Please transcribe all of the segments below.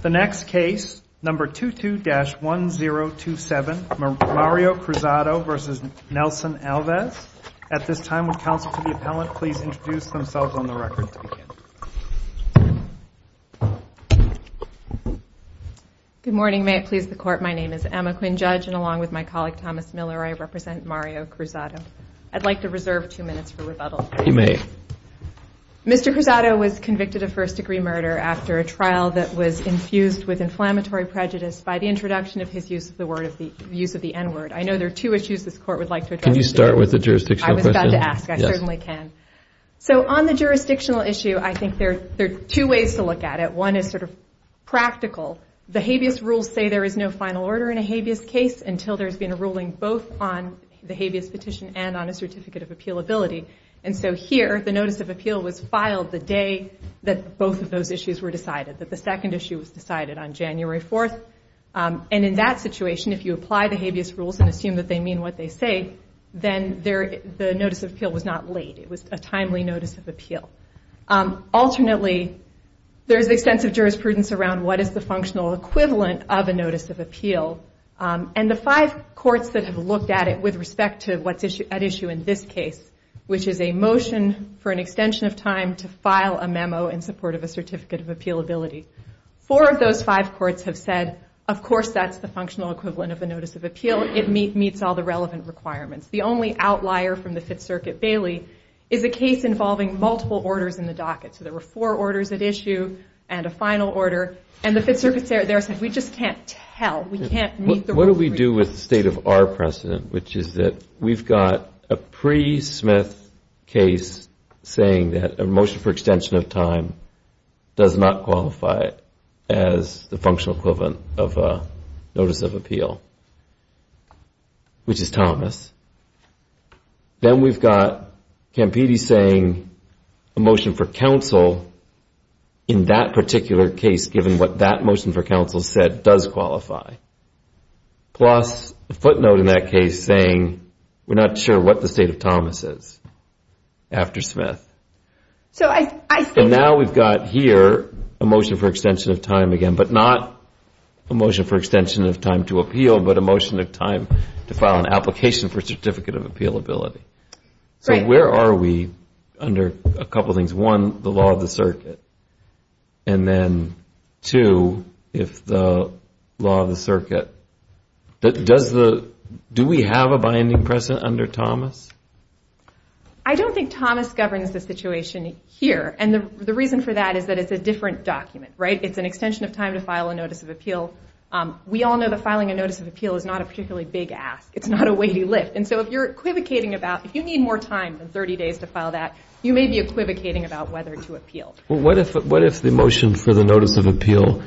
The next case, number 22-1027, Mario Cruzado v. Nelson Alves. At this time, would counsel to the appellant please introduce themselves on the record to begin. Good morning, may it please the court. My name is Emma Quinn, judge, and along with my colleague Thomas Miller, I represent Mario Cruzado. I'd like to reserve two minutes for rebuttal. You may. Mr. Cruzado was convicted of first degree murder after a trial that was infused with inflammatory prejudice by the introduction of his use of the N-word. I know there are two issues this court would like to address. Can you start with the jurisdictional question? I was about to ask. I certainly can. So on the jurisdictional issue, I think there are two ways to look at it. One is sort of practical. The habeas rules say there is no final order in a habeas case until there's been a ruling both on the habeas petition and on a certificate of appealability. And so here, the notice of appeal was filed the day that both of those issues were decided, that the second issue was decided on January 4th. And in that situation, if you apply the habeas rules and assume that they mean what they say, then the notice of appeal was not late. It was a timely notice of appeal. Alternately, there's extensive jurisprudence around what is the functional equivalent of a notice of appeal. And the five courts that have looked at it with respect to what's at issue in this case, which is a motion for an extension of time to file a memo in support of a certificate of appealability, four of those five courts have said, of course that's the functional equivalent of a notice of appeal. It meets all the relevant requirements. The only outlier from the Fifth Circuit, Bailey, is a case involving multiple orders in the docket. So there were four orders at issue and a final order. And the Fifth Circuit said, we just can't tell. We can't meet the rules. What do we do with the state of our precedent, which is that we've got a pre-Smith case saying that a motion for extension of time does not qualify as the functional equivalent of a notice of appeal, which is Thomas. Then we've got Campidi saying a motion for counsel in that particular case, given what that motion for counsel said does qualify. Plus a footnote in that case saying we're not sure what the state of Thomas is after Smith. And now we've got here a motion for extension of time again, but not a motion for extension of time to appeal, but a motion of time to file an application for a certificate of appealability. So where are we under a couple of things? One, the law of the circuit. And then two, if the law of the circuit. Do we have a binding precedent under Thomas? I don't think Thomas governs the situation here. And the reason for that is that it's a different document. It's an extension of time to file a notice of appeal. We all know that filing a notice of appeal is not a particularly big ask. It's not a weighty lift. And so if you're equivocating about, if you need more time than 30 days to file that, you may be equivocating about whether to appeal. What if the motion for the notice of appeal,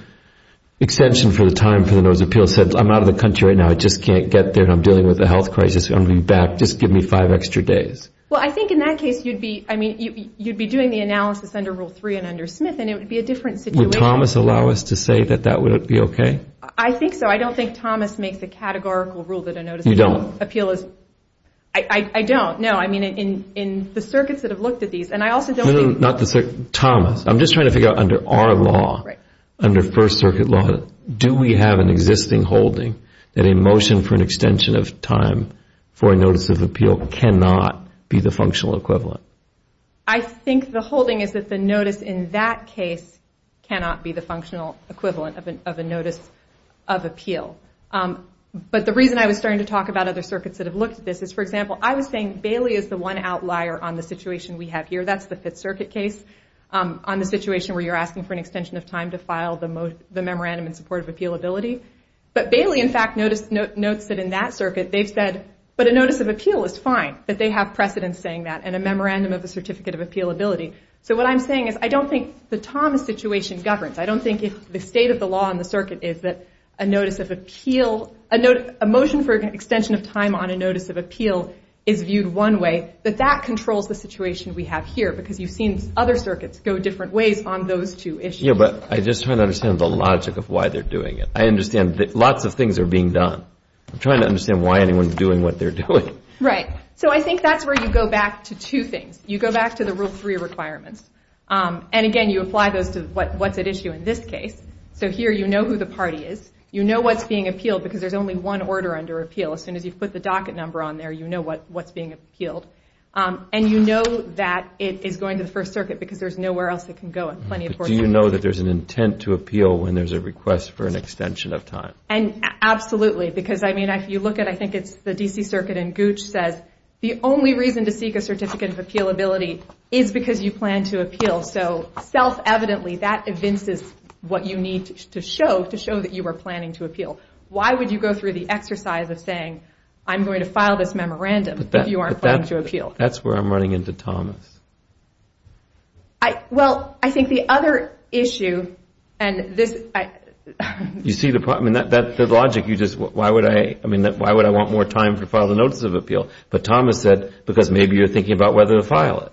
extension for the time for the notice of appeal, says I'm out of the country right now, I just can't get there, and I'm dealing with a health crisis, I want to be back, just give me five extra days? Well, I think in that case you'd be doing the analysis under Rule 3 and under Smith, and it would be a different situation. Does Thomas allow us to say that that would be okay? I think so. I don't think Thomas makes a categorical rule that a notice of appeal is... You don't? I don't, no. I mean, in the circuits that have looked at these, and I also don't think... No, no, not the circuit. Thomas. I'm just trying to figure out under our law, under First Circuit law, do we have an existing holding that a motion for an extension of time for a notice of appeal cannot be the functional equivalent? I think the holding is that the notice in that case cannot be the functional equivalent of a notice of appeal. But the reason I was starting to talk about other circuits that have looked at this is, for example, I was saying Bailey is the one outlier on the situation we have here. That's the Fifth Circuit case, on the situation where you're asking for an extension of time to file the memorandum in support of appealability. But Bailey, in fact, notes that in that circuit they've said, but a notice of appeal is fine, that they have precedence saying that, and a memorandum of a certificate of appealability. So what I'm saying is, I don't think the Thomas situation governs. I don't think if the state of the law in the circuit is that a notice of appeal, a motion for an extension of time on a notice of appeal is viewed one way, that that controls the situation we have here, because you've seen other circuits go different ways on those two issues. Yeah, but I'm just trying to understand the logic of why they're doing it. I understand that lots of things are being done. I'm trying to understand why anyone's doing what they're doing. Right. So I think that's where you go back to two things. You go back to the Rule 3 requirements. And again, you apply those to what's at issue in this case. So here you know who the party is. You know what's being appealed, because there's only one order under appeal. As soon as you put the docket number on there, you know what's being appealed. And you know that it is going to the First Circuit, because there's nowhere else it can go. Do you know that there's an intent to appeal when there's a request for an extension of time? Absolutely. Because, I mean, if you look at, I think it's the D.C. Circuit, and Gooch says, the only reason to seek a certificate of appealability is because you plan to appeal. So self-evidently, that evinces what you need to show to show that you were planning to appeal. Why would you go through the exercise of saying, I'm going to file this memorandum if you aren't planning to appeal? That's where I'm running into Thomas. Well, I think the other issue, and this— You see the logic. Why would I want more time to file the notice of appeal? But Thomas said, because maybe you're thinking about whether to file it.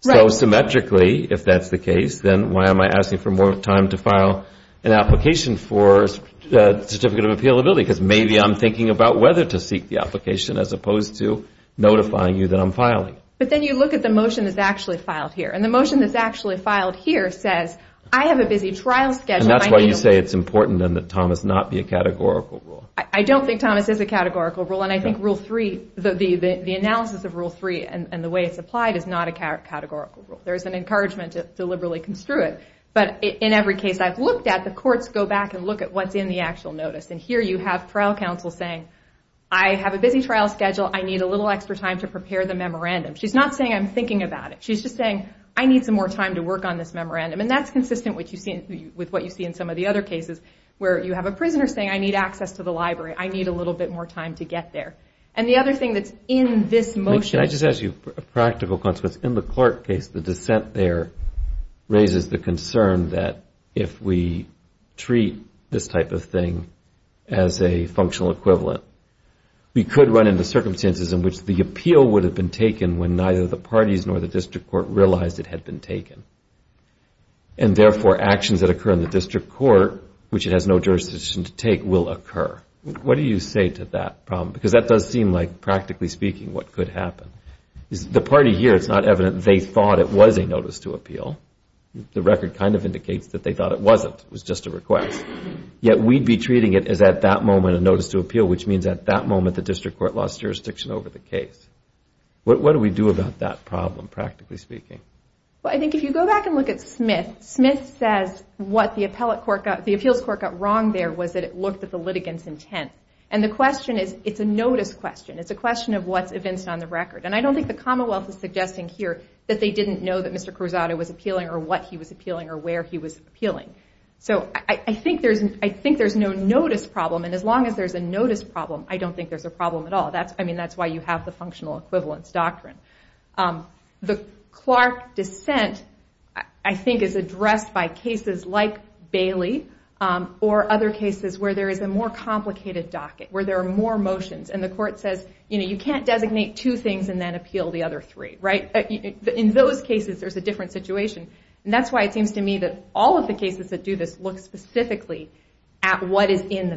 So symmetrically, if that's the case, then why am I asking for more time to file an application for a certificate of appealability? Because maybe I'm thinking about whether to seek the application as opposed to notifying you that I'm filing. But then you look at the motion that's actually filed here. And the motion that's actually filed here says, I have a busy trial schedule. And that's why you say it's important, then, that Thomas not be a categorical rule. I don't think Thomas is a categorical rule. And I think Rule 3, the analysis of Rule 3 and the way it's applied is not a categorical rule. There's an encouragement to deliberately construe it. But in every case I've looked at, the courts go back and look at what's in the actual notice. And here you have trial counsel saying, I have a busy trial schedule. I need a little extra time to prepare the memorandum. She's not saying I'm thinking about it. She's just saying, I need some more time to work on this memorandum. And that's consistent with what you see in some of the other cases, where you have a prisoner saying, I need access to the library. I need a little bit more time to get there. And the other thing that's in this motion. Can I just ask you a practical consequence? In the Clark case, the dissent there raises the concern that if we treat this type of thing as a functional equivalent, we could run into circumstances in which the appeal would have been taken when neither the parties nor the district court realized it had been taken. And therefore, actions that occur in the district court, which it has no jurisdiction to take, will occur. What do you say to that problem? Because that does seem like, practically speaking, what could happen. The party here, it's not evident they thought it was a notice to appeal. The record kind of indicates that they thought it wasn't. It was just a request. Yet we'd be treating it as, at that moment, a notice to appeal, which means at that moment, the district court lost jurisdiction over the case. What do we do about that problem, practically speaking? Well, I think if you go back and look at Smith, Smith says what the appeals court got wrong there was that it looked at the litigant's intent. And the question is, it's a notice question. It's a question of what's evinced on the record. And I don't think the Commonwealth is suggesting here that they didn't know that Mr. Cruzado was appealing or what he was appealing or where he was appealing. So I think there's no notice problem. And as long as there's a notice problem, I don't think there's a problem at all. I mean, that's why you have the functional equivalence doctrine. The Clark dissent, I think, is addressed by cases like Bailey or other cases where there is a more complicated docket, where there are more motions. And the court says, you know, you can't designate two things and then appeal the other three, right? In those cases, there's a different situation. And that's why it seems to me that all of the cases that do this look specifically at what is in the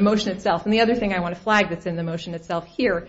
motion itself. And the other thing I want to flag that's in the motion itself here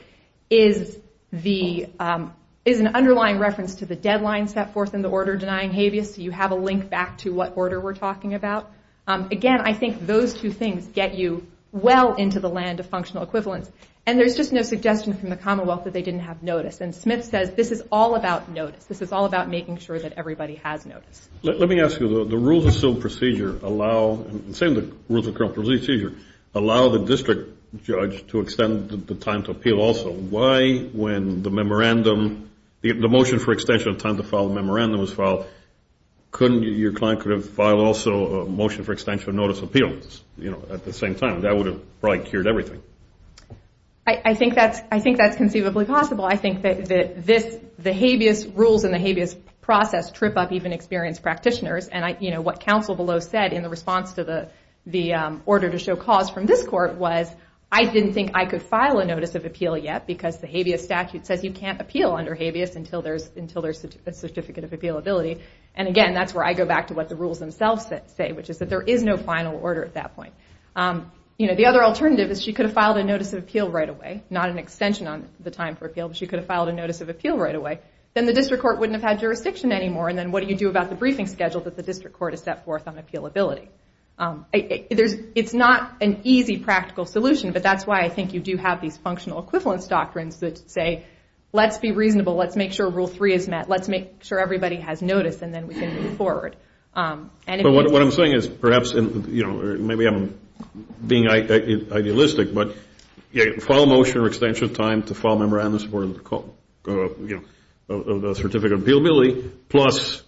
is an underlying reference to the deadline set forth in the order denying habeas. So you have a link back to what order we're talking about. Again, I think those two things get you well into the land of functional equivalence. And there's just no suggestion from the Commonwealth that they didn't have notice. And Smith says this is all about notice. This is all about making sure that everybody has notice. Let me ask you. The rules of civil procedure allow, same as the rules of criminal procedure, allow the district judge to extend the time to appeal also. Why, when the memorandum, the motion for extension of time to file a memorandum was filed, couldn't your client could have filed also a motion for extension of notice appeal, you know, at the same time? That would have probably cured everything. I think that's conceivably possible. I think that the habeas rules and the habeas process trip up even experienced practitioners. And, you know, what counsel below said in the response to the order to show cause from this court was, I didn't think I could file a notice of appeal yet because the habeas statute says you can't appeal under habeas until there's a certificate of appealability. And, again, that's where I go back to what the rules themselves say, which is that there is no final order at that point. You know, the other alternative is she could have filed a notice of appeal right away, not an extension on the time for appeal, but she could have filed a notice of appeal right away. Then the district court wouldn't have had jurisdiction anymore, and then what do you do about the briefing schedule that the district court has set forth on appealability? It's not an easy practical solution, but that's why I think you do have these functional equivalence doctrines that say let's be reasonable, let's make sure rule three is met, let's make sure everybody has notice, and then we can move forward. But what I'm saying is perhaps, you know, maybe I'm being idealistic, but file a motion or extension of time to file memorandums for the certificate of appealability plus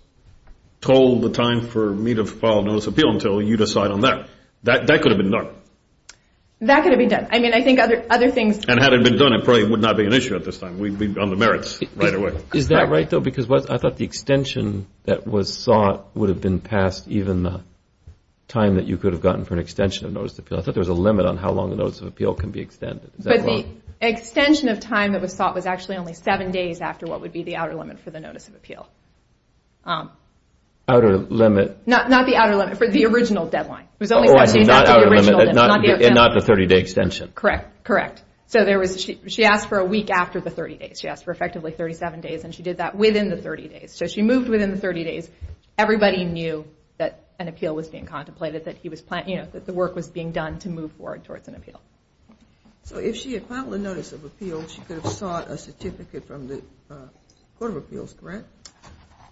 told the time for me to file a notice of appeal until you decide on that. That could have been done. That could have been done. I mean, I think other things. And had it been done, it probably would not be an issue at this time. We'd be on the merits right away. Is that right, though? Because I thought the extension that was sought would have been past even the time that you could have gotten for an extension of notice of appeal. I thought there was a limit on how long a notice of appeal can be extended. But the extension of time that was sought was actually only seven days after what would be the outer limit for the notice of appeal. Outer limit? Not the outer limit. For the original deadline. So not the 30-day extension. Correct. Correct. So she asked for a week after the 30 days. She asked for effectively 37 days, and she did that within the 30 days. So she moved within the 30 days. Everybody knew that an appeal was being contemplated, that the work was being done to move forward towards an appeal. So if she had filed a notice of appeal, she could have sought a certificate from the Court of Appeals, correct?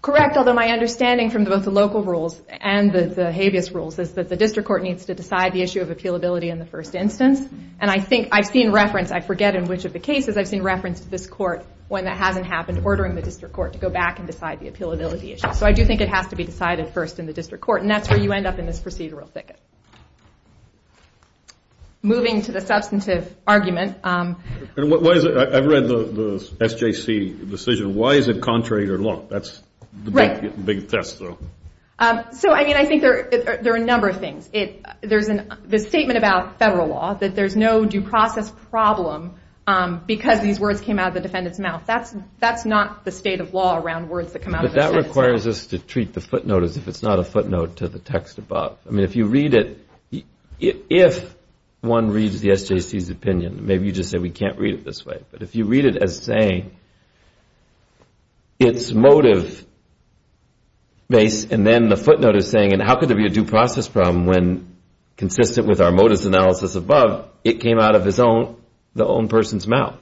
Correct, although my understanding from both the local rules and the habeas rules is that the district court needs to decide the issue of appealability in the first instance. And I think I've seen reference, I forget in which of the cases I've seen reference to this court, when that hasn't happened, ordering the district court to go back and decide the appealability issue. So I do think it has to be decided first in the district court. And that's where you end up in this procedural thicket. Moving to the substantive argument. I've read the SJC decision. Why is it contrary to law? That's the big test, though. So, I mean, I think there are a number of things. The statement about federal law, that there's no due process problem because these words came out of the defendant's mouth, that's not the state of law around words that come out of the defendant's mouth. But that requires us to treat the footnote as if it's not a footnote to the text above. I mean, if you read it, if one reads the SJC's opinion, maybe you just say we can't read it this way, but if you read it as saying it's motive-based, and then the footnote is saying, and how could there be a due process problem when, consistent with our motives analysis above, it came out of the own person's mouth?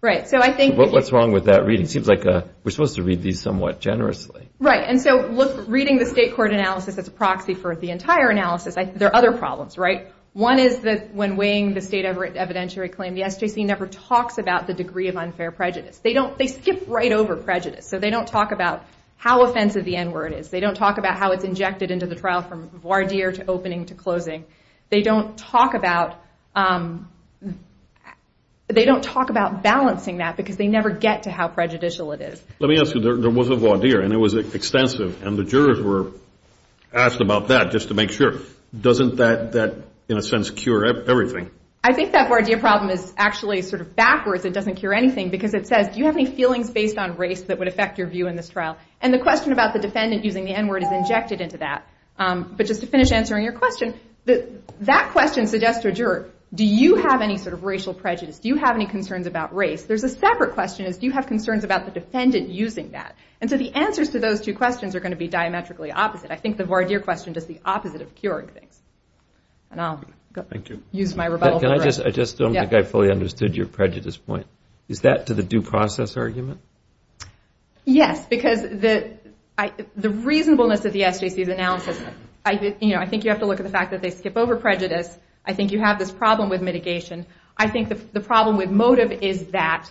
What's wrong with that reading? It seems like we're supposed to read these somewhat generously. Right. And so reading the state court analysis as a proxy for the entire analysis, there are other problems, right? One is that when weighing the state evidentiary claim, the SJC never talks about the degree of unfair prejudice. They skip right over prejudice. So they don't talk about how offensive the N word is. They don't talk about how it's injected into the trial from voir dire to opening to closing. They don't talk about balancing that because they never get to how prejudicial it is. Let me ask you. There was a voir dire, and it was extensive, and the jurors were asked about that just to make sure. Doesn't that, in a sense, cure everything? I think that voir dire problem is actually sort of backwards. It doesn't cure anything because it says, do you have any feelings based on race that would affect your view in this trial? And the question about the defendant using the N word is injected into that. But just to finish answering your question, that question suggests to a juror, do you have any sort of racial prejudice? Do you have any concerns about race? There's a separate question. Do you have concerns about the defendant using that? And so the answers to those two questions are going to be diametrically opposite. I think the voir dire question does the opposite of curing things. And I'll use my rebuttal. I just don't think I fully understood your prejudice point. Is that to the due process argument? Yes, because the reasonableness of the SJC's analysis, I think you have to look at the fact that they skip over prejudice. I think you have this problem with mitigation. I think the problem with motive is that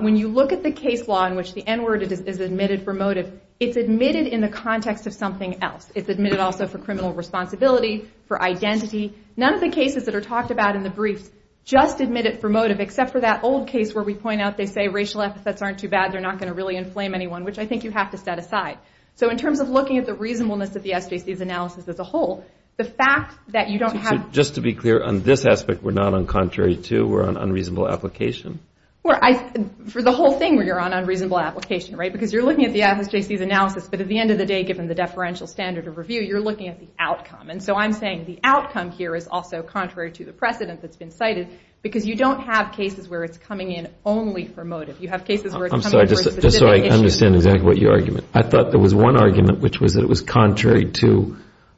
when you look at the case law in which the N word is admitted for motive, it's admitted in the context of something else. It's admitted also for criminal responsibility, for identity. None of the cases that are talked about in the briefs just admit it for motive, except for that old case where we point out they say racial epithets aren't too bad, they're not going to really inflame anyone, which I think you have to set aside. So in terms of looking at the reasonableness of the SJC's analysis as a whole, the fact that you don't have to... Just to be clear, on this aspect we're not on contrary to, we're on unreasonable application? For the whole thing, we're on unreasonable application, right? Because you're looking at the SJC's analysis, but at the end of the day, given the deferential standard of review, you're looking at the outcome. And so I'm saying the outcome here is also contrary to the precedent that's been cited because you don't have cases where it's coming in only for motive. You have cases where it's coming for a specific issue. I'm sorry, just so I understand exactly what you're arguing. I thought there was one argument, which was that it was contrary to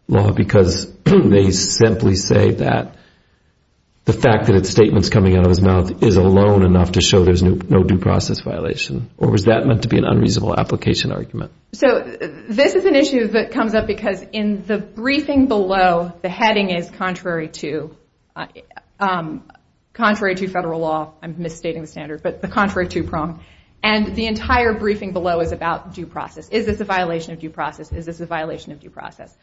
law because they simply say that the fact that a statement's coming out of his mouth is alone enough to show there's no due process violation. Or was that meant to be an unreasonable application argument? So this is an issue that comes up because in the briefing below, the heading is contrary to federal law. I'm misstating the standard, but the contrary to prong. And the entire briefing below is about due process. Is this a violation of due process? Is this a violation of due process?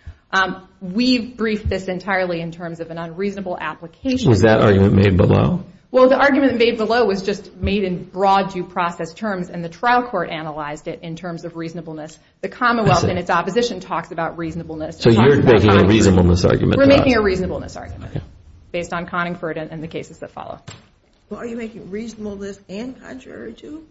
We briefed this entirely in terms of an unreasonable application. Was that argument made below? Well, the argument made below was just made in broad due process terms, and the trial court analyzed it in terms of reasonableness. The Commonwealth and its opposition talks about reasonableness. So you're making a reasonableness argument? We're making a reasonableness argument based on Conningford and the cases that follow. Well, are you making reasonableness and contrary to?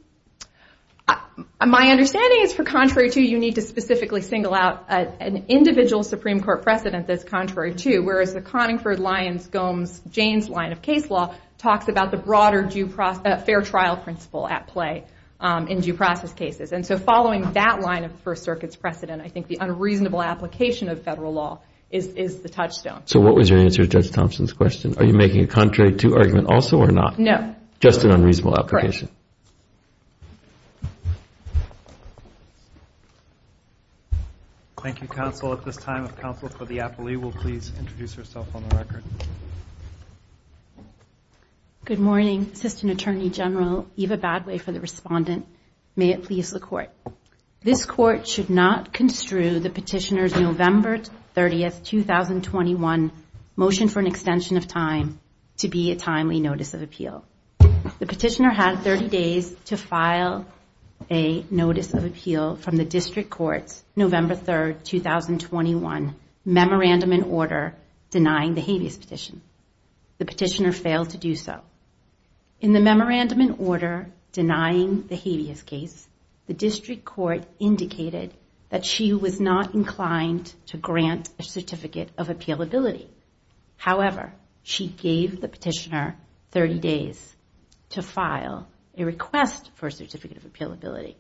My understanding is for contrary to, you need to specifically single out an individual Supreme Court precedent that's contrary to, whereas the Conningford, Lyons, Gomes, Jaynes line of case law talks about the broader fair trial principle at play in due process cases. And so following that line of First Circuit's precedent, I think the unreasonable application of federal law is the touchstone. So what was your answer to Judge Thompson's question? Are you making a contrary to argument also or not? No. Just an unreasonable application? Correct. Thank you, counsel. At this time, if counsel for the appellee will please introduce herself on the record. Good morning. Assistant Attorney General Eva Badway for the respondent. May it please the Court. This Court should not construe the petitioner's November 30, 2021, motion for an extension of time to be a timely notice of appeal. The petitioner had 30 days to file a notice of appeal from the district court's November 3, 2021, memorandum in order denying the habeas petition. The petitioner failed to do so. In the memorandum in order denying the habeas case, the district court indicated that she was not inclined to grant a certificate of appealability. However, she gave the petitioner 30 days to file a request for a certificate of appealability.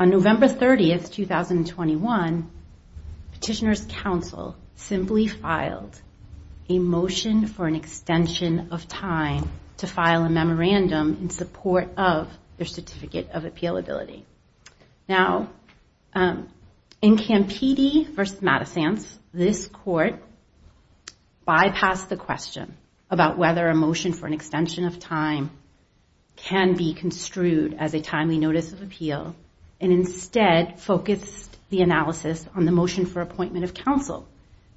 On November 30, 2021, petitioner's counsel simply filed a motion for an extension of time to be a timely notice of appeal. Now, in Campidi v. Madison, this Court bypassed the question about whether a motion for an extension of time can be construed as a timely notice of appeal and instead focused the analysis on the motion for appointment of counsel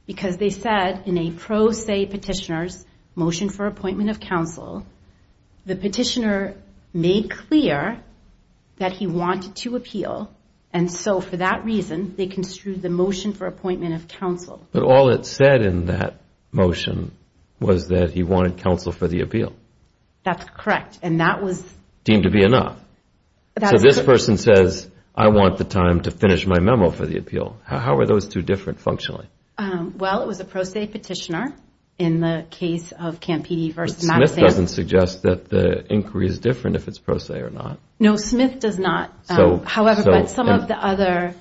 because they said in a pro se petitioner's motion for appointment of counsel, the petitioner made clear that he wanted to appeal. And so for that reason, they construed the motion for appointment of counsel. But all it said in that motion was that he wanted counsel for the appeal. That's correct. And that was deemed to be enough. So this person says, I want the time to finish my memo for the appeal. How are those two different functionally? Well, it was a pro se petitioner in the case of Campidi v. Madison. Smith doesn't suggest that the inquiry is different if it's pro se or not. No, Smith does not. However, some of the other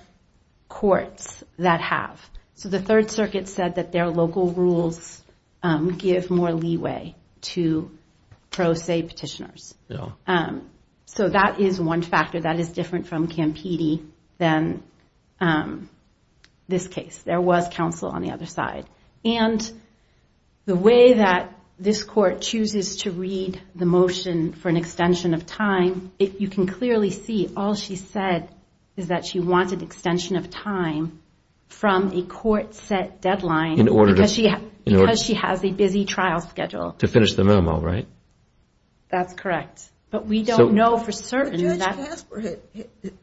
courts that have. So the Third Circuit said that their local rules give more leeway to pro se petitioners. So that is one factor that is different from Campidi than this case. There was counsel on the other side. And the way that this court chooses to read the motion for an extension of time, you can clearly see all she said is that she wanted extension of time from a court set deadline because she has a busy trial schedule. To finish the memo, right? That's correct. But we don't know for certain. But Judge Casper,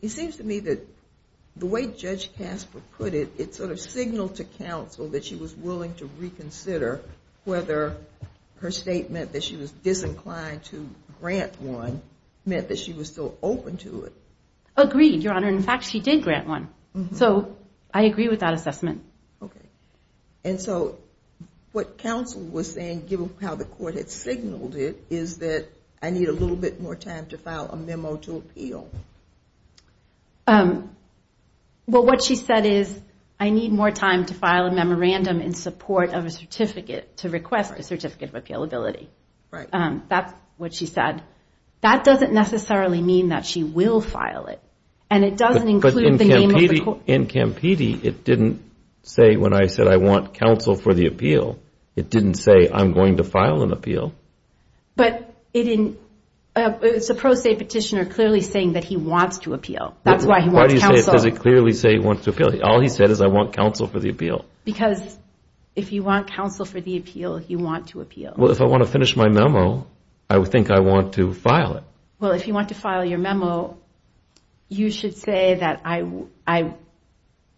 it seems to me that the way Judge Casper put it, it sort of signaled to counsel that she was willing to reconsider whether her statement that she was disinclined to grant one meant that she was still open to it. Agreed, Your Honor. In fact, she did grant one. So I agree with that assessment. Okay. And so what counsel was saying, given how the court had signaled it, is that I need a little bit more time to file a memo to appeal. Well, what she said is I need more time to file a memorandum in support of a certificate to request a certificate of appealability. Right. That's what she said. That doesn't necessarily mean that she will file it. But in Campidi, it didn't say when I said I want counsel for the appeal, it didn't say I'm going to file an appeal. But it's a pro se petitioner clearly saying that he wants to appeal. That's why he wants counsel. Why does it clearly say he wants to appeal? All he said is I want counsel for the appeal. Because if you want counsel for the appeal, you want to appeal. Well, if I want to finish my memo, I think I want to file it. Well, if you want to file your memo, you should say that I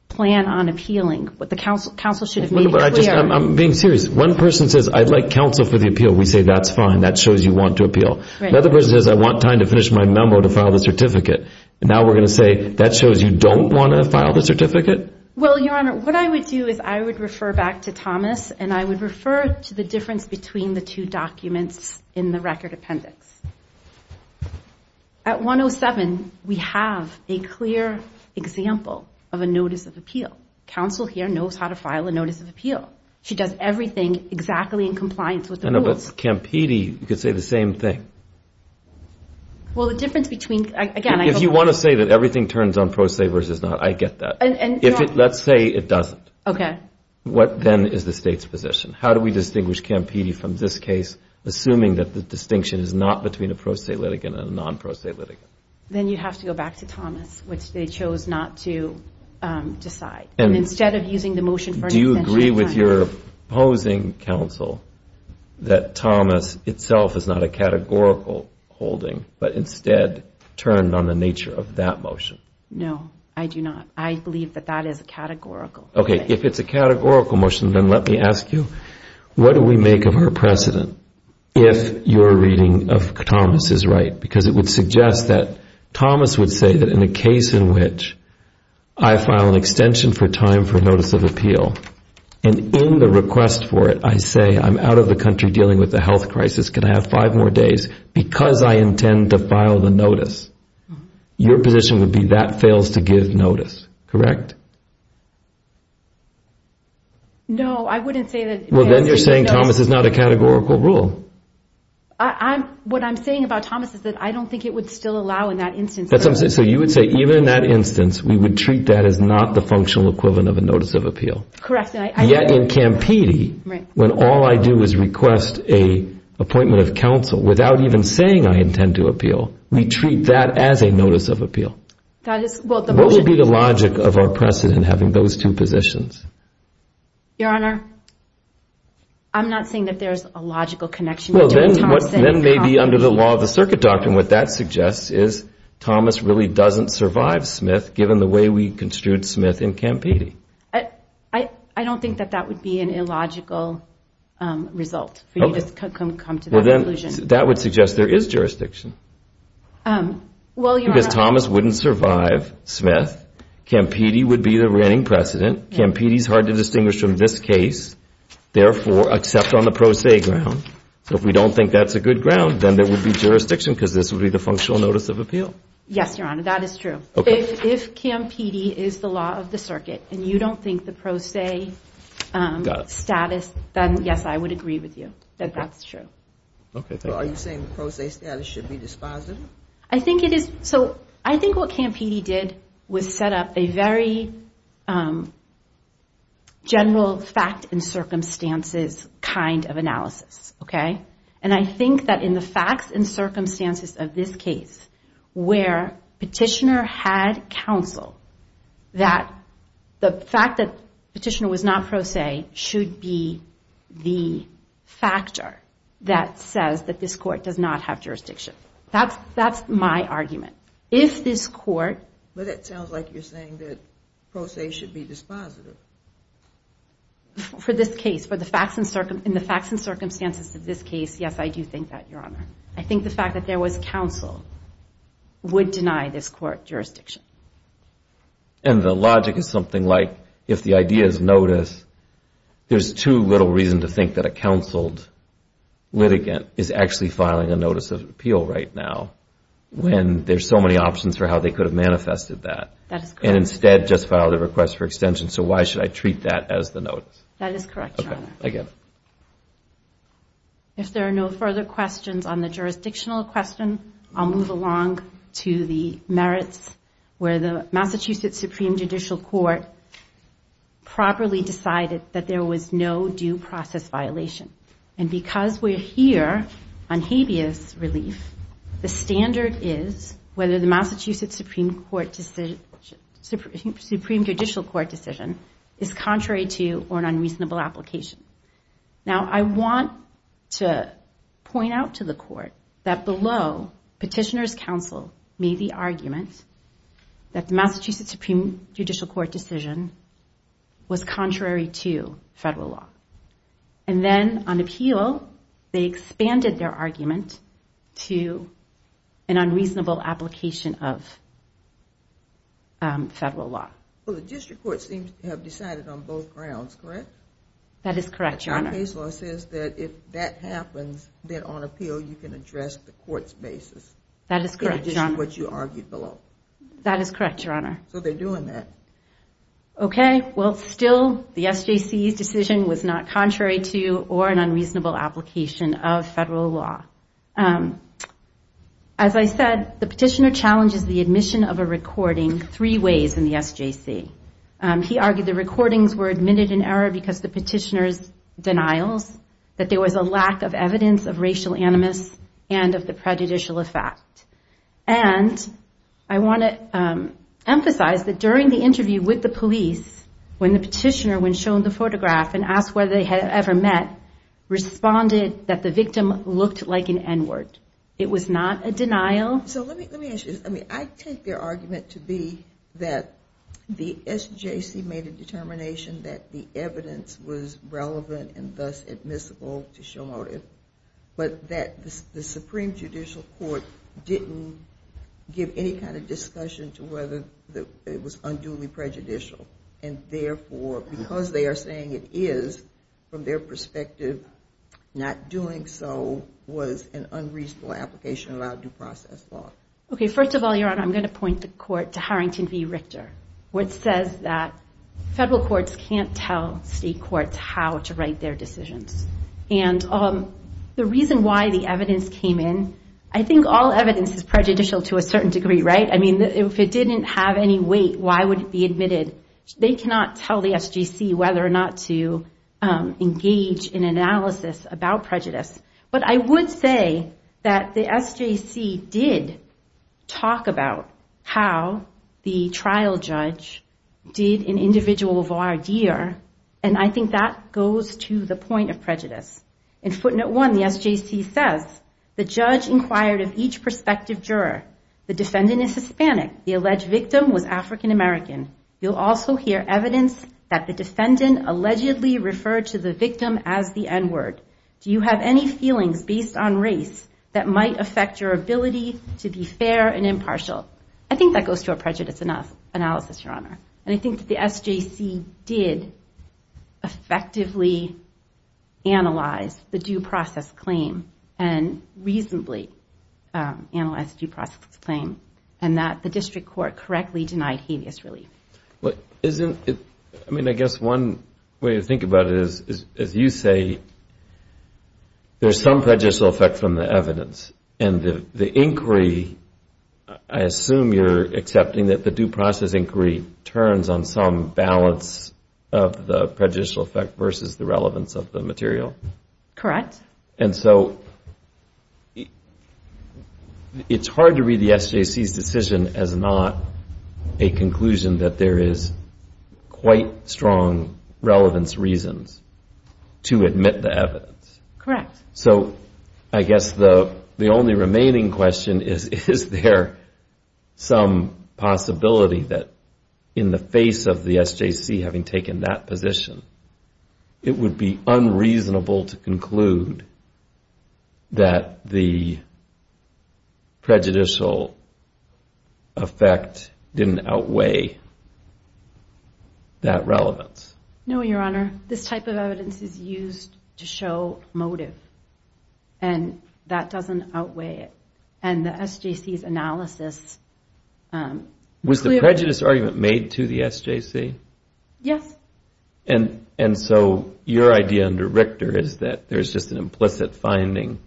plan on appealing. But the counsel should have made it clear. I'm being serious. One person says I'd like counsel for the appeal. We say that's fine. That shows you want to appeal. Right. Another person says I want time to finish my memo to file the certificate. Now we're going to say that shows you don't want to file the certificate? Well, Your Honor, what I would do is I would refer back to Thomas, and I would refer to the difference between the two documents in the record appendix. At 107, we have a clear example of a notice of appeal. Counsel here knows how to file a notice of appeal. She does everything exactly in compliance with the rules. I know, but Campidi could say the same thing. Well, the difference between, again, I go back. If you want to say that everything turns on pro se versus not, I get that. Let's say it doesn't. Okay. What then is the State's position? How do we distinguish Campidi from this case, assuming that the distinction is not between a pro se litigant and a non pro se litigant? Then you have to go back to Thomas, which they chose not to decide. And instead of using the motion for an extension of time. Do you agree with your opposing counsel that Thomas itself is not a categorical holding, but instead turned on the nature of that motion? No, I do not. I believe that that is a categorical. Okay. If it's a categorical motion, then let me ask you, what do we make of our precedent if your reading of Thomas is right? Because it would suggest that Thomas would say that in a case in which I file an extension for time for notice of appeal, and in the request for it I say I'm out of the country dealing with a health crisis, can I have five more days, because I intend to file the notice. Your position would be that fails to give notice. Correct? No, I wouldn't say that. Well, then you're saying Thomas is not a categorical rule. What I'm saying about Thomas is that I don't think it would still allow in that instance. So you would say even in that instance, we would treat that as not the functional equivalent of a notice of appeal. Correct. Yet in Campidi, when all I do is request an appointment of counsel without even saying I intend to appeal, we treat that as a notice of appeal. What would be the logic of our precedent having those two positions? Your Honor, I'm not saying that there's a logical connection. Then maybe under the law of the circuit doctrine, what that suggests is Thomas really doesn't survive Smith given the way we construed Smith in Campidi. I don't think that that would be an illogical result for you to come to that conclusion. That would suggest there is jurisdiction. Because Thomas wouldn't survive Smith, Campidi would be the reigning precedent, Campidi is hard to distinguish from this case, therefore, except on the pro se ground. If we don't think that's a good ground, then there would be jurisdiction because this would be the functional notice of appeal. Yes, Your Honor, that is true. If Campidi is the law of the circuit and you don't think the pro se status, then yes, I would agree with you that that's true. Are you saying the pro se status should be dispositive? I think what Campidi did was set up a very general fact and circumstances kind of analysis. I think that in the facts and circumstances of this case, where Petitioner had counsel that the fact that Petitioner was not pro se should be the factor that says that this court does not have jurisdiction. That's my argument. If this court... But it sounds like you're saying that pro se should be dispositive. For this case, in the facts and circumstances of this case, yes, I do think that, Your Honor. I think the fact that there was counsel would deny this court jurisdiction. And the logic is something like if the idea is notice, there's too little reason to think that a counseled litigant is actually filing a notice of appeal right now when there's so many options for how they could have manifested that. That is correct. And instead just filed a request for extension, so why should I treat that as the notice? That is correct, Your Honor. Okay, I get it. If there are no further questions on the jurisdictional question, I'll move along to the merits where the Massachusetts Supreme Judicial Court properly decided that there was no due process violation. And because we're here on habeas relief, the standard is whether the Massachusetts Supreme Judicial Court decision is contrary to or an unreasonable application. Now, I want to point out to the court that below, petitioner's counsel made the argument that the Massachusetts Supreme Judicial Court decision was contrary to federal law. And then on appeal, they expanded their argument to an unreasonable application of federal law. Well, the district court seems to have decided on both grounds, correct? That is correct, Your Honor. Our case law says that if that happens, then on appeal you can address the court's basis. That is correct, Your Honor. What you argued below. That is correct, Your Honor. So they're doing that. Okay. Well, still, the SJC's decision was not contrary to or an unreasonable application of federal law. As I said, the petitioner challenges the admission of a recording three ways in the SJC. He argued the recordings were admitted in error because the petitioner's denials, that there was a lack of evidence of racial animus and of the prejudicial effect. And I want to emphasize that during the interview with the police, when the petitioner, when shown the photograph and asked whether they had ever met, responded that the victim looked like an N-word. It was not a denial. So let me ask you this. I mean, I take their argument to be that the SJC made a determination that the evidence was relevant and thus admissible to show motive, but that the Supreme Judicial Court didn't give any kind of discussion to whether it was unduly prejudicial. And therefore, because they are saying it is, from their perspective, not doing so was an unreasonable application of our due process law. Okay. First of all, Your Honor, I'm going to point the court to Harrington v. Richter, which says that federal courts can't tell state courts how to write their decisions. And the reason why the evidence came in, I think all evidence is prejudicial to a certain degree, right? I mean, if it didn't have any weight, why would it be admitted? They cannot tell the SJC whether or not to engage in analysis about prejudice. But I would say that the SJC did talk about how the trial judge did an individual voir dire, and I think that goes to the point of prejudice. In footnote 1, the SJC says, The judge inquired of each prospective juror. The defendant is Hispanic. The alleged victim was African American. You'll also hear evidence that the defendant allegedly referred to the victim as the N-word. Do you have any feelings based on race that might affect your ability to be fair and impartial? I think that goes to a prejudice analysis, Your Honor. And I think that the SJC did effectively analyze the due process claim and reasonably analyzed the due process claim, and that the district court correctly denied habeas relief. I mean, I guess one way to think about it is, as you say, the inquiry, I assume you're accepting that the due process inquiry turns on some balance of the prejudicial effect versus the relevance of the material? Correct. And so it's hard to read the SJC's decision as not a conclusion that there is quite strong relevance reasons to admit the evidence. Correct. So I guess the only remaining question is, Is there some possibility that in the face of the SJC having taken that position, it would be unreasonable to conclude that the prejudicial effect didn't outweigh that relevance? No, Your Honor. This type of evidence is used to show motive. And that doesn't outweigh it. And the SJC's analysis... Was the prejudice argument made to the SJC? Yes. And so your idea under Richter is that there's just an implicit finding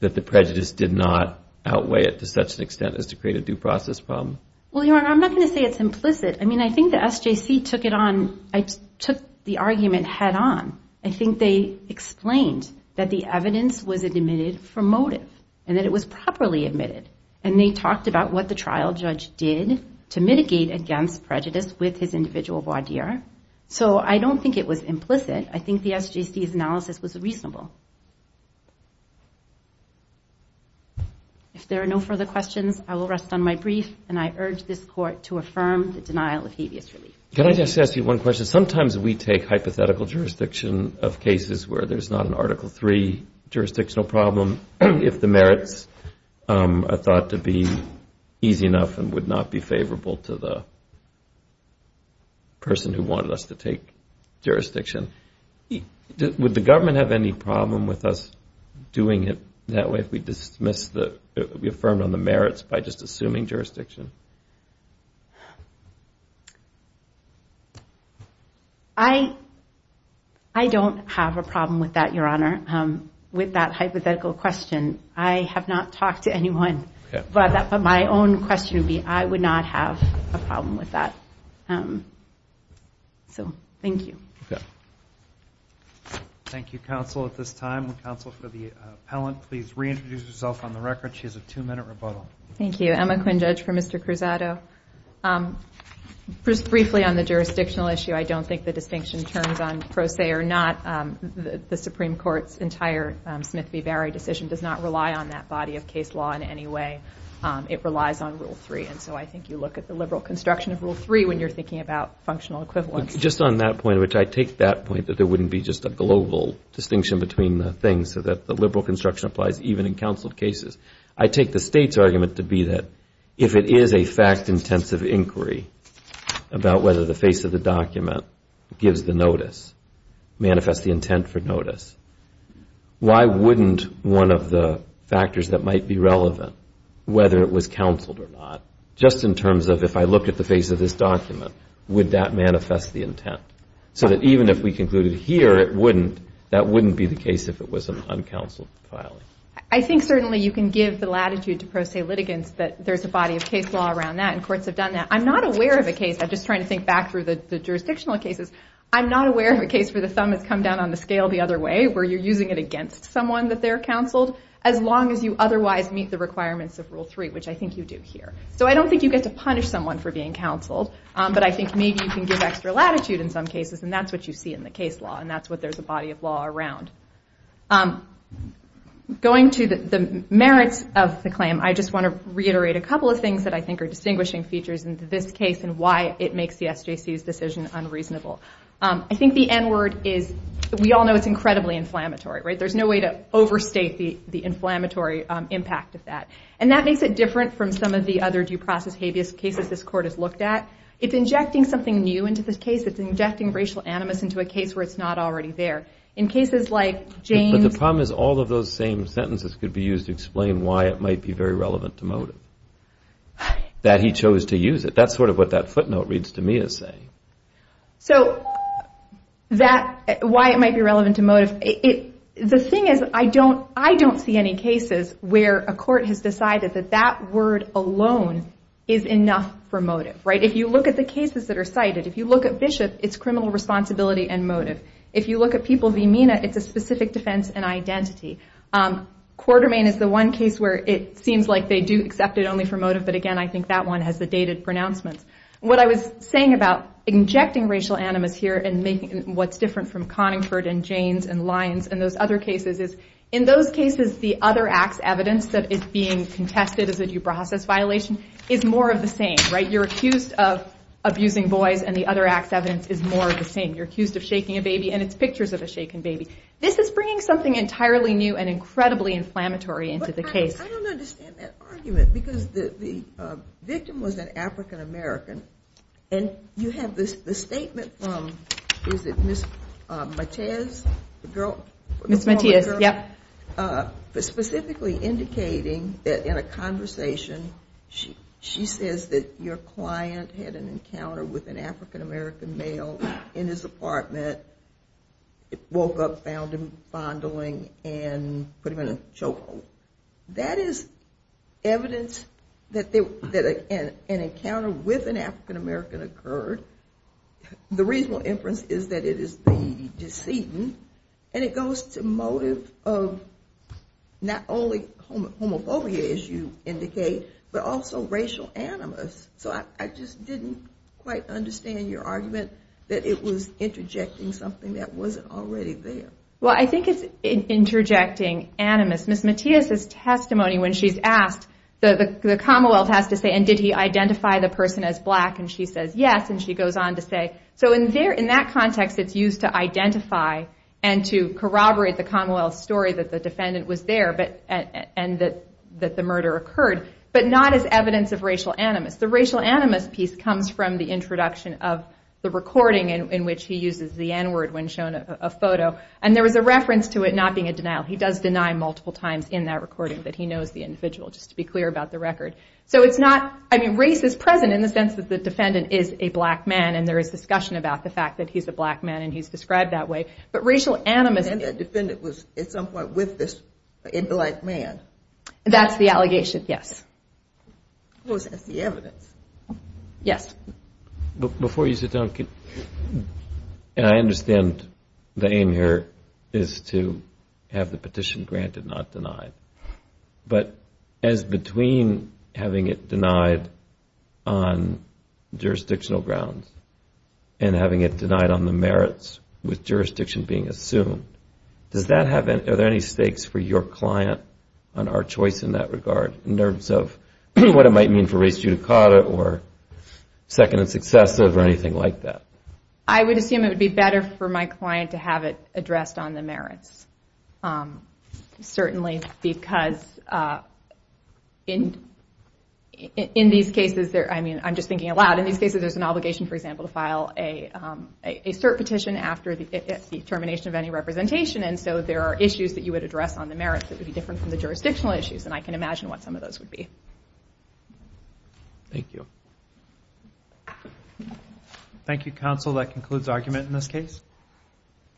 that the prejudice did not outweigh it to such an extent as to create a due process problem? Well, Your Honor, I'm not going to say it's implicit. I mean, I think the SJC took it on. I took the argument head-on. I think they explained that the evidence was admitted for motive and that it was properly admitted. And they talked about what the trial judge did to mitigate against prejudice with his individual voir dire. So I don't think it was implicit. I think the SJC's analysis was reasonable. If there are no further questions, I will rest on my brief, and I urge this Court to affirm the denial of habeas relief. Can I just ask you one question? Sometimes we take hypothetical jurisdiction of cases where there's not an Article III jurisdictional problem, if the merits are thought to be easy enough and would not be favorable to the person who wanted us to take jurisdiction. Would the government have any problem with us doing it that way if we affirmed on the merits by just assuming jurisdiction? I don't have a problem with that, Your Honor, with that hypothetical question. I have not talked to anyone. But my own question would be I would not have a problem with that. So thank you. Thank you, counsel, at this time. Counsel for the appellant, please reintroduce yourself on the record. She has a two-minute rebuttal. Thank you. Emma Quinn, judge, for Mr. Cruzado. Just briefly on the jurisdictional issue, I don't think the distinction turns on pro se or not. The Supreme Court's entire Smith v. Barry decision does not rely on that body of case law in any way. It relies on Rule 3, and so I think you look at the liberal construction of Rule 3 when you're thinking about functional equivalence. Just on that point, which I take that point that there wouldn't be just a global distinction between things so that the liberal construction applies even in counsel cases, I take the State's argument to be that if it is a fact-intensive inquiry about whether the face of the document gives the notice, manifests the intent for notice, why wouldn't one of the factors that might be relevant, whether it was counseled or not, just in terms of if I looked at the face of this document, would that manifest the intent? So that even if we concluded here it wouldn't, that wouldn't be the case if it was an uncounseled filing. I think certainly you can give the latitude to pro se litigants that there's a body of case law around that and courts have done that. I'm not aware of a case, I'm just trying to think back through the jurisdictional cases, I'm not aware of a case where the thumb has come down on the scale the other way, where you're using it against someone that they're counseled, as long as you otherwise meet the requirements of Rule 3, which I think you do here. So I don't think you get to punish someone for being counseled, but I think maybe you can give extra latitude in some cases and that's what you see in the case law and that's what there's a body of law around. Going to the merits of the claim, I just want to reiterate a couple of things that I think are distinguishing features in this case and why it makes the SJC's decision unreasonable. I think the N word is, we all know it's incredibly inflammatory, right? There's no way to overstate the inflammatory impact of that. And that makes it different from some of the other due process habeas cases this court has looked at. It's injecting something new into this case. It's injecting racial animus into a case where it's not already there. In cases like James... But the problem is all of those same sentences could be used to explain why it might be very relevant to motive, that he chose to use it. That's sort of what that footnote reads to me as saying. So, that, why it might be relevant to motive, the thing is, I don't see any cases where a court has decided that that word alone is enough for motive, right? If you look at the cases that are cited, if you look at Bishop, it's criminal responsibility and motive. If you look at people v. Mina, it's a specific defense and identity. Quartermain is the one case where it seems like they do accept it only for motive, but again, I think that one has the dated pronouncements. What I was saying about injecting racial animus here and making what's different from Conningford and Janes and Lyons and those other cases is, in those cases, the other acts evidence that is being contested as a due process violation is more of the same, right? You're accused of abusing boys and the other acts evidence is more of the same. You're accused of shaking a baby and it's pictures of a shaken baby. This is bringing something entirely new and incredibly inflammatory into the case. I don't understand that argument because the victim was an African-American and you have the statement from, is it Ms. Matias, the girl? Ms. Matias, yep. Specifically indicating that in a conversation, she says that your client had an encounter with an African-American male in his apartment, woke up, found him fondling and put him in a chokehold. That is evidence that an encounter with an African-American occurred. The reasonable inference is that it is the decedent and it goes to motive of not only homophobia, as you indicate, but also racial animus. So I just didn't quite understand your argument that it was interjecting something that wasn't already there. Well, I think it's interjecting animus. Ms. Matias' testimony when she's asked, the Commonwealth has to say, and did he identify the person as black and she says yes and she goes on to say, so in that context it's used to identify and to corroborate the Commonwealth story that the defendant was there and that the murder occurred, but not as evidence of racial animus. The racial animus piece comes from the introduction of the recording in which he uses the N-word when shown a photo, and there was a reference to it not being a denial. He does deny multiple times in that recording that he knows the individual, just to be clear about the record. So it's not, I mean, race is present in the sense that the defendant is a black man and there is discussion about the fact that he's a black man and he's described that way, but racial animus... And the defendant was at some point with this black man. That's the allegation, yes. Well, that's the evidence. Yes. Before you sit down, and I understand the aim here is to have the petition granted, not denied, but as between having it denied on jurisdictional grounds and having it denied on the merits with jurisdiction being assumed, are there any stakes for your client on our choice in that regard in terms of what it might mean for race judicata or second and successive or anything like that? I would assume it would be better for my client to have it addressed on the merits, certainly because in these cases there's an obligation, for example, to file a cert petition after the termination of any representation, and so there are issues that you would address on the merits that would be different from the jurisdictional issues, and I can imagine what some of those would be. Thank you. Thank you, counsel. That concludes argument in this case.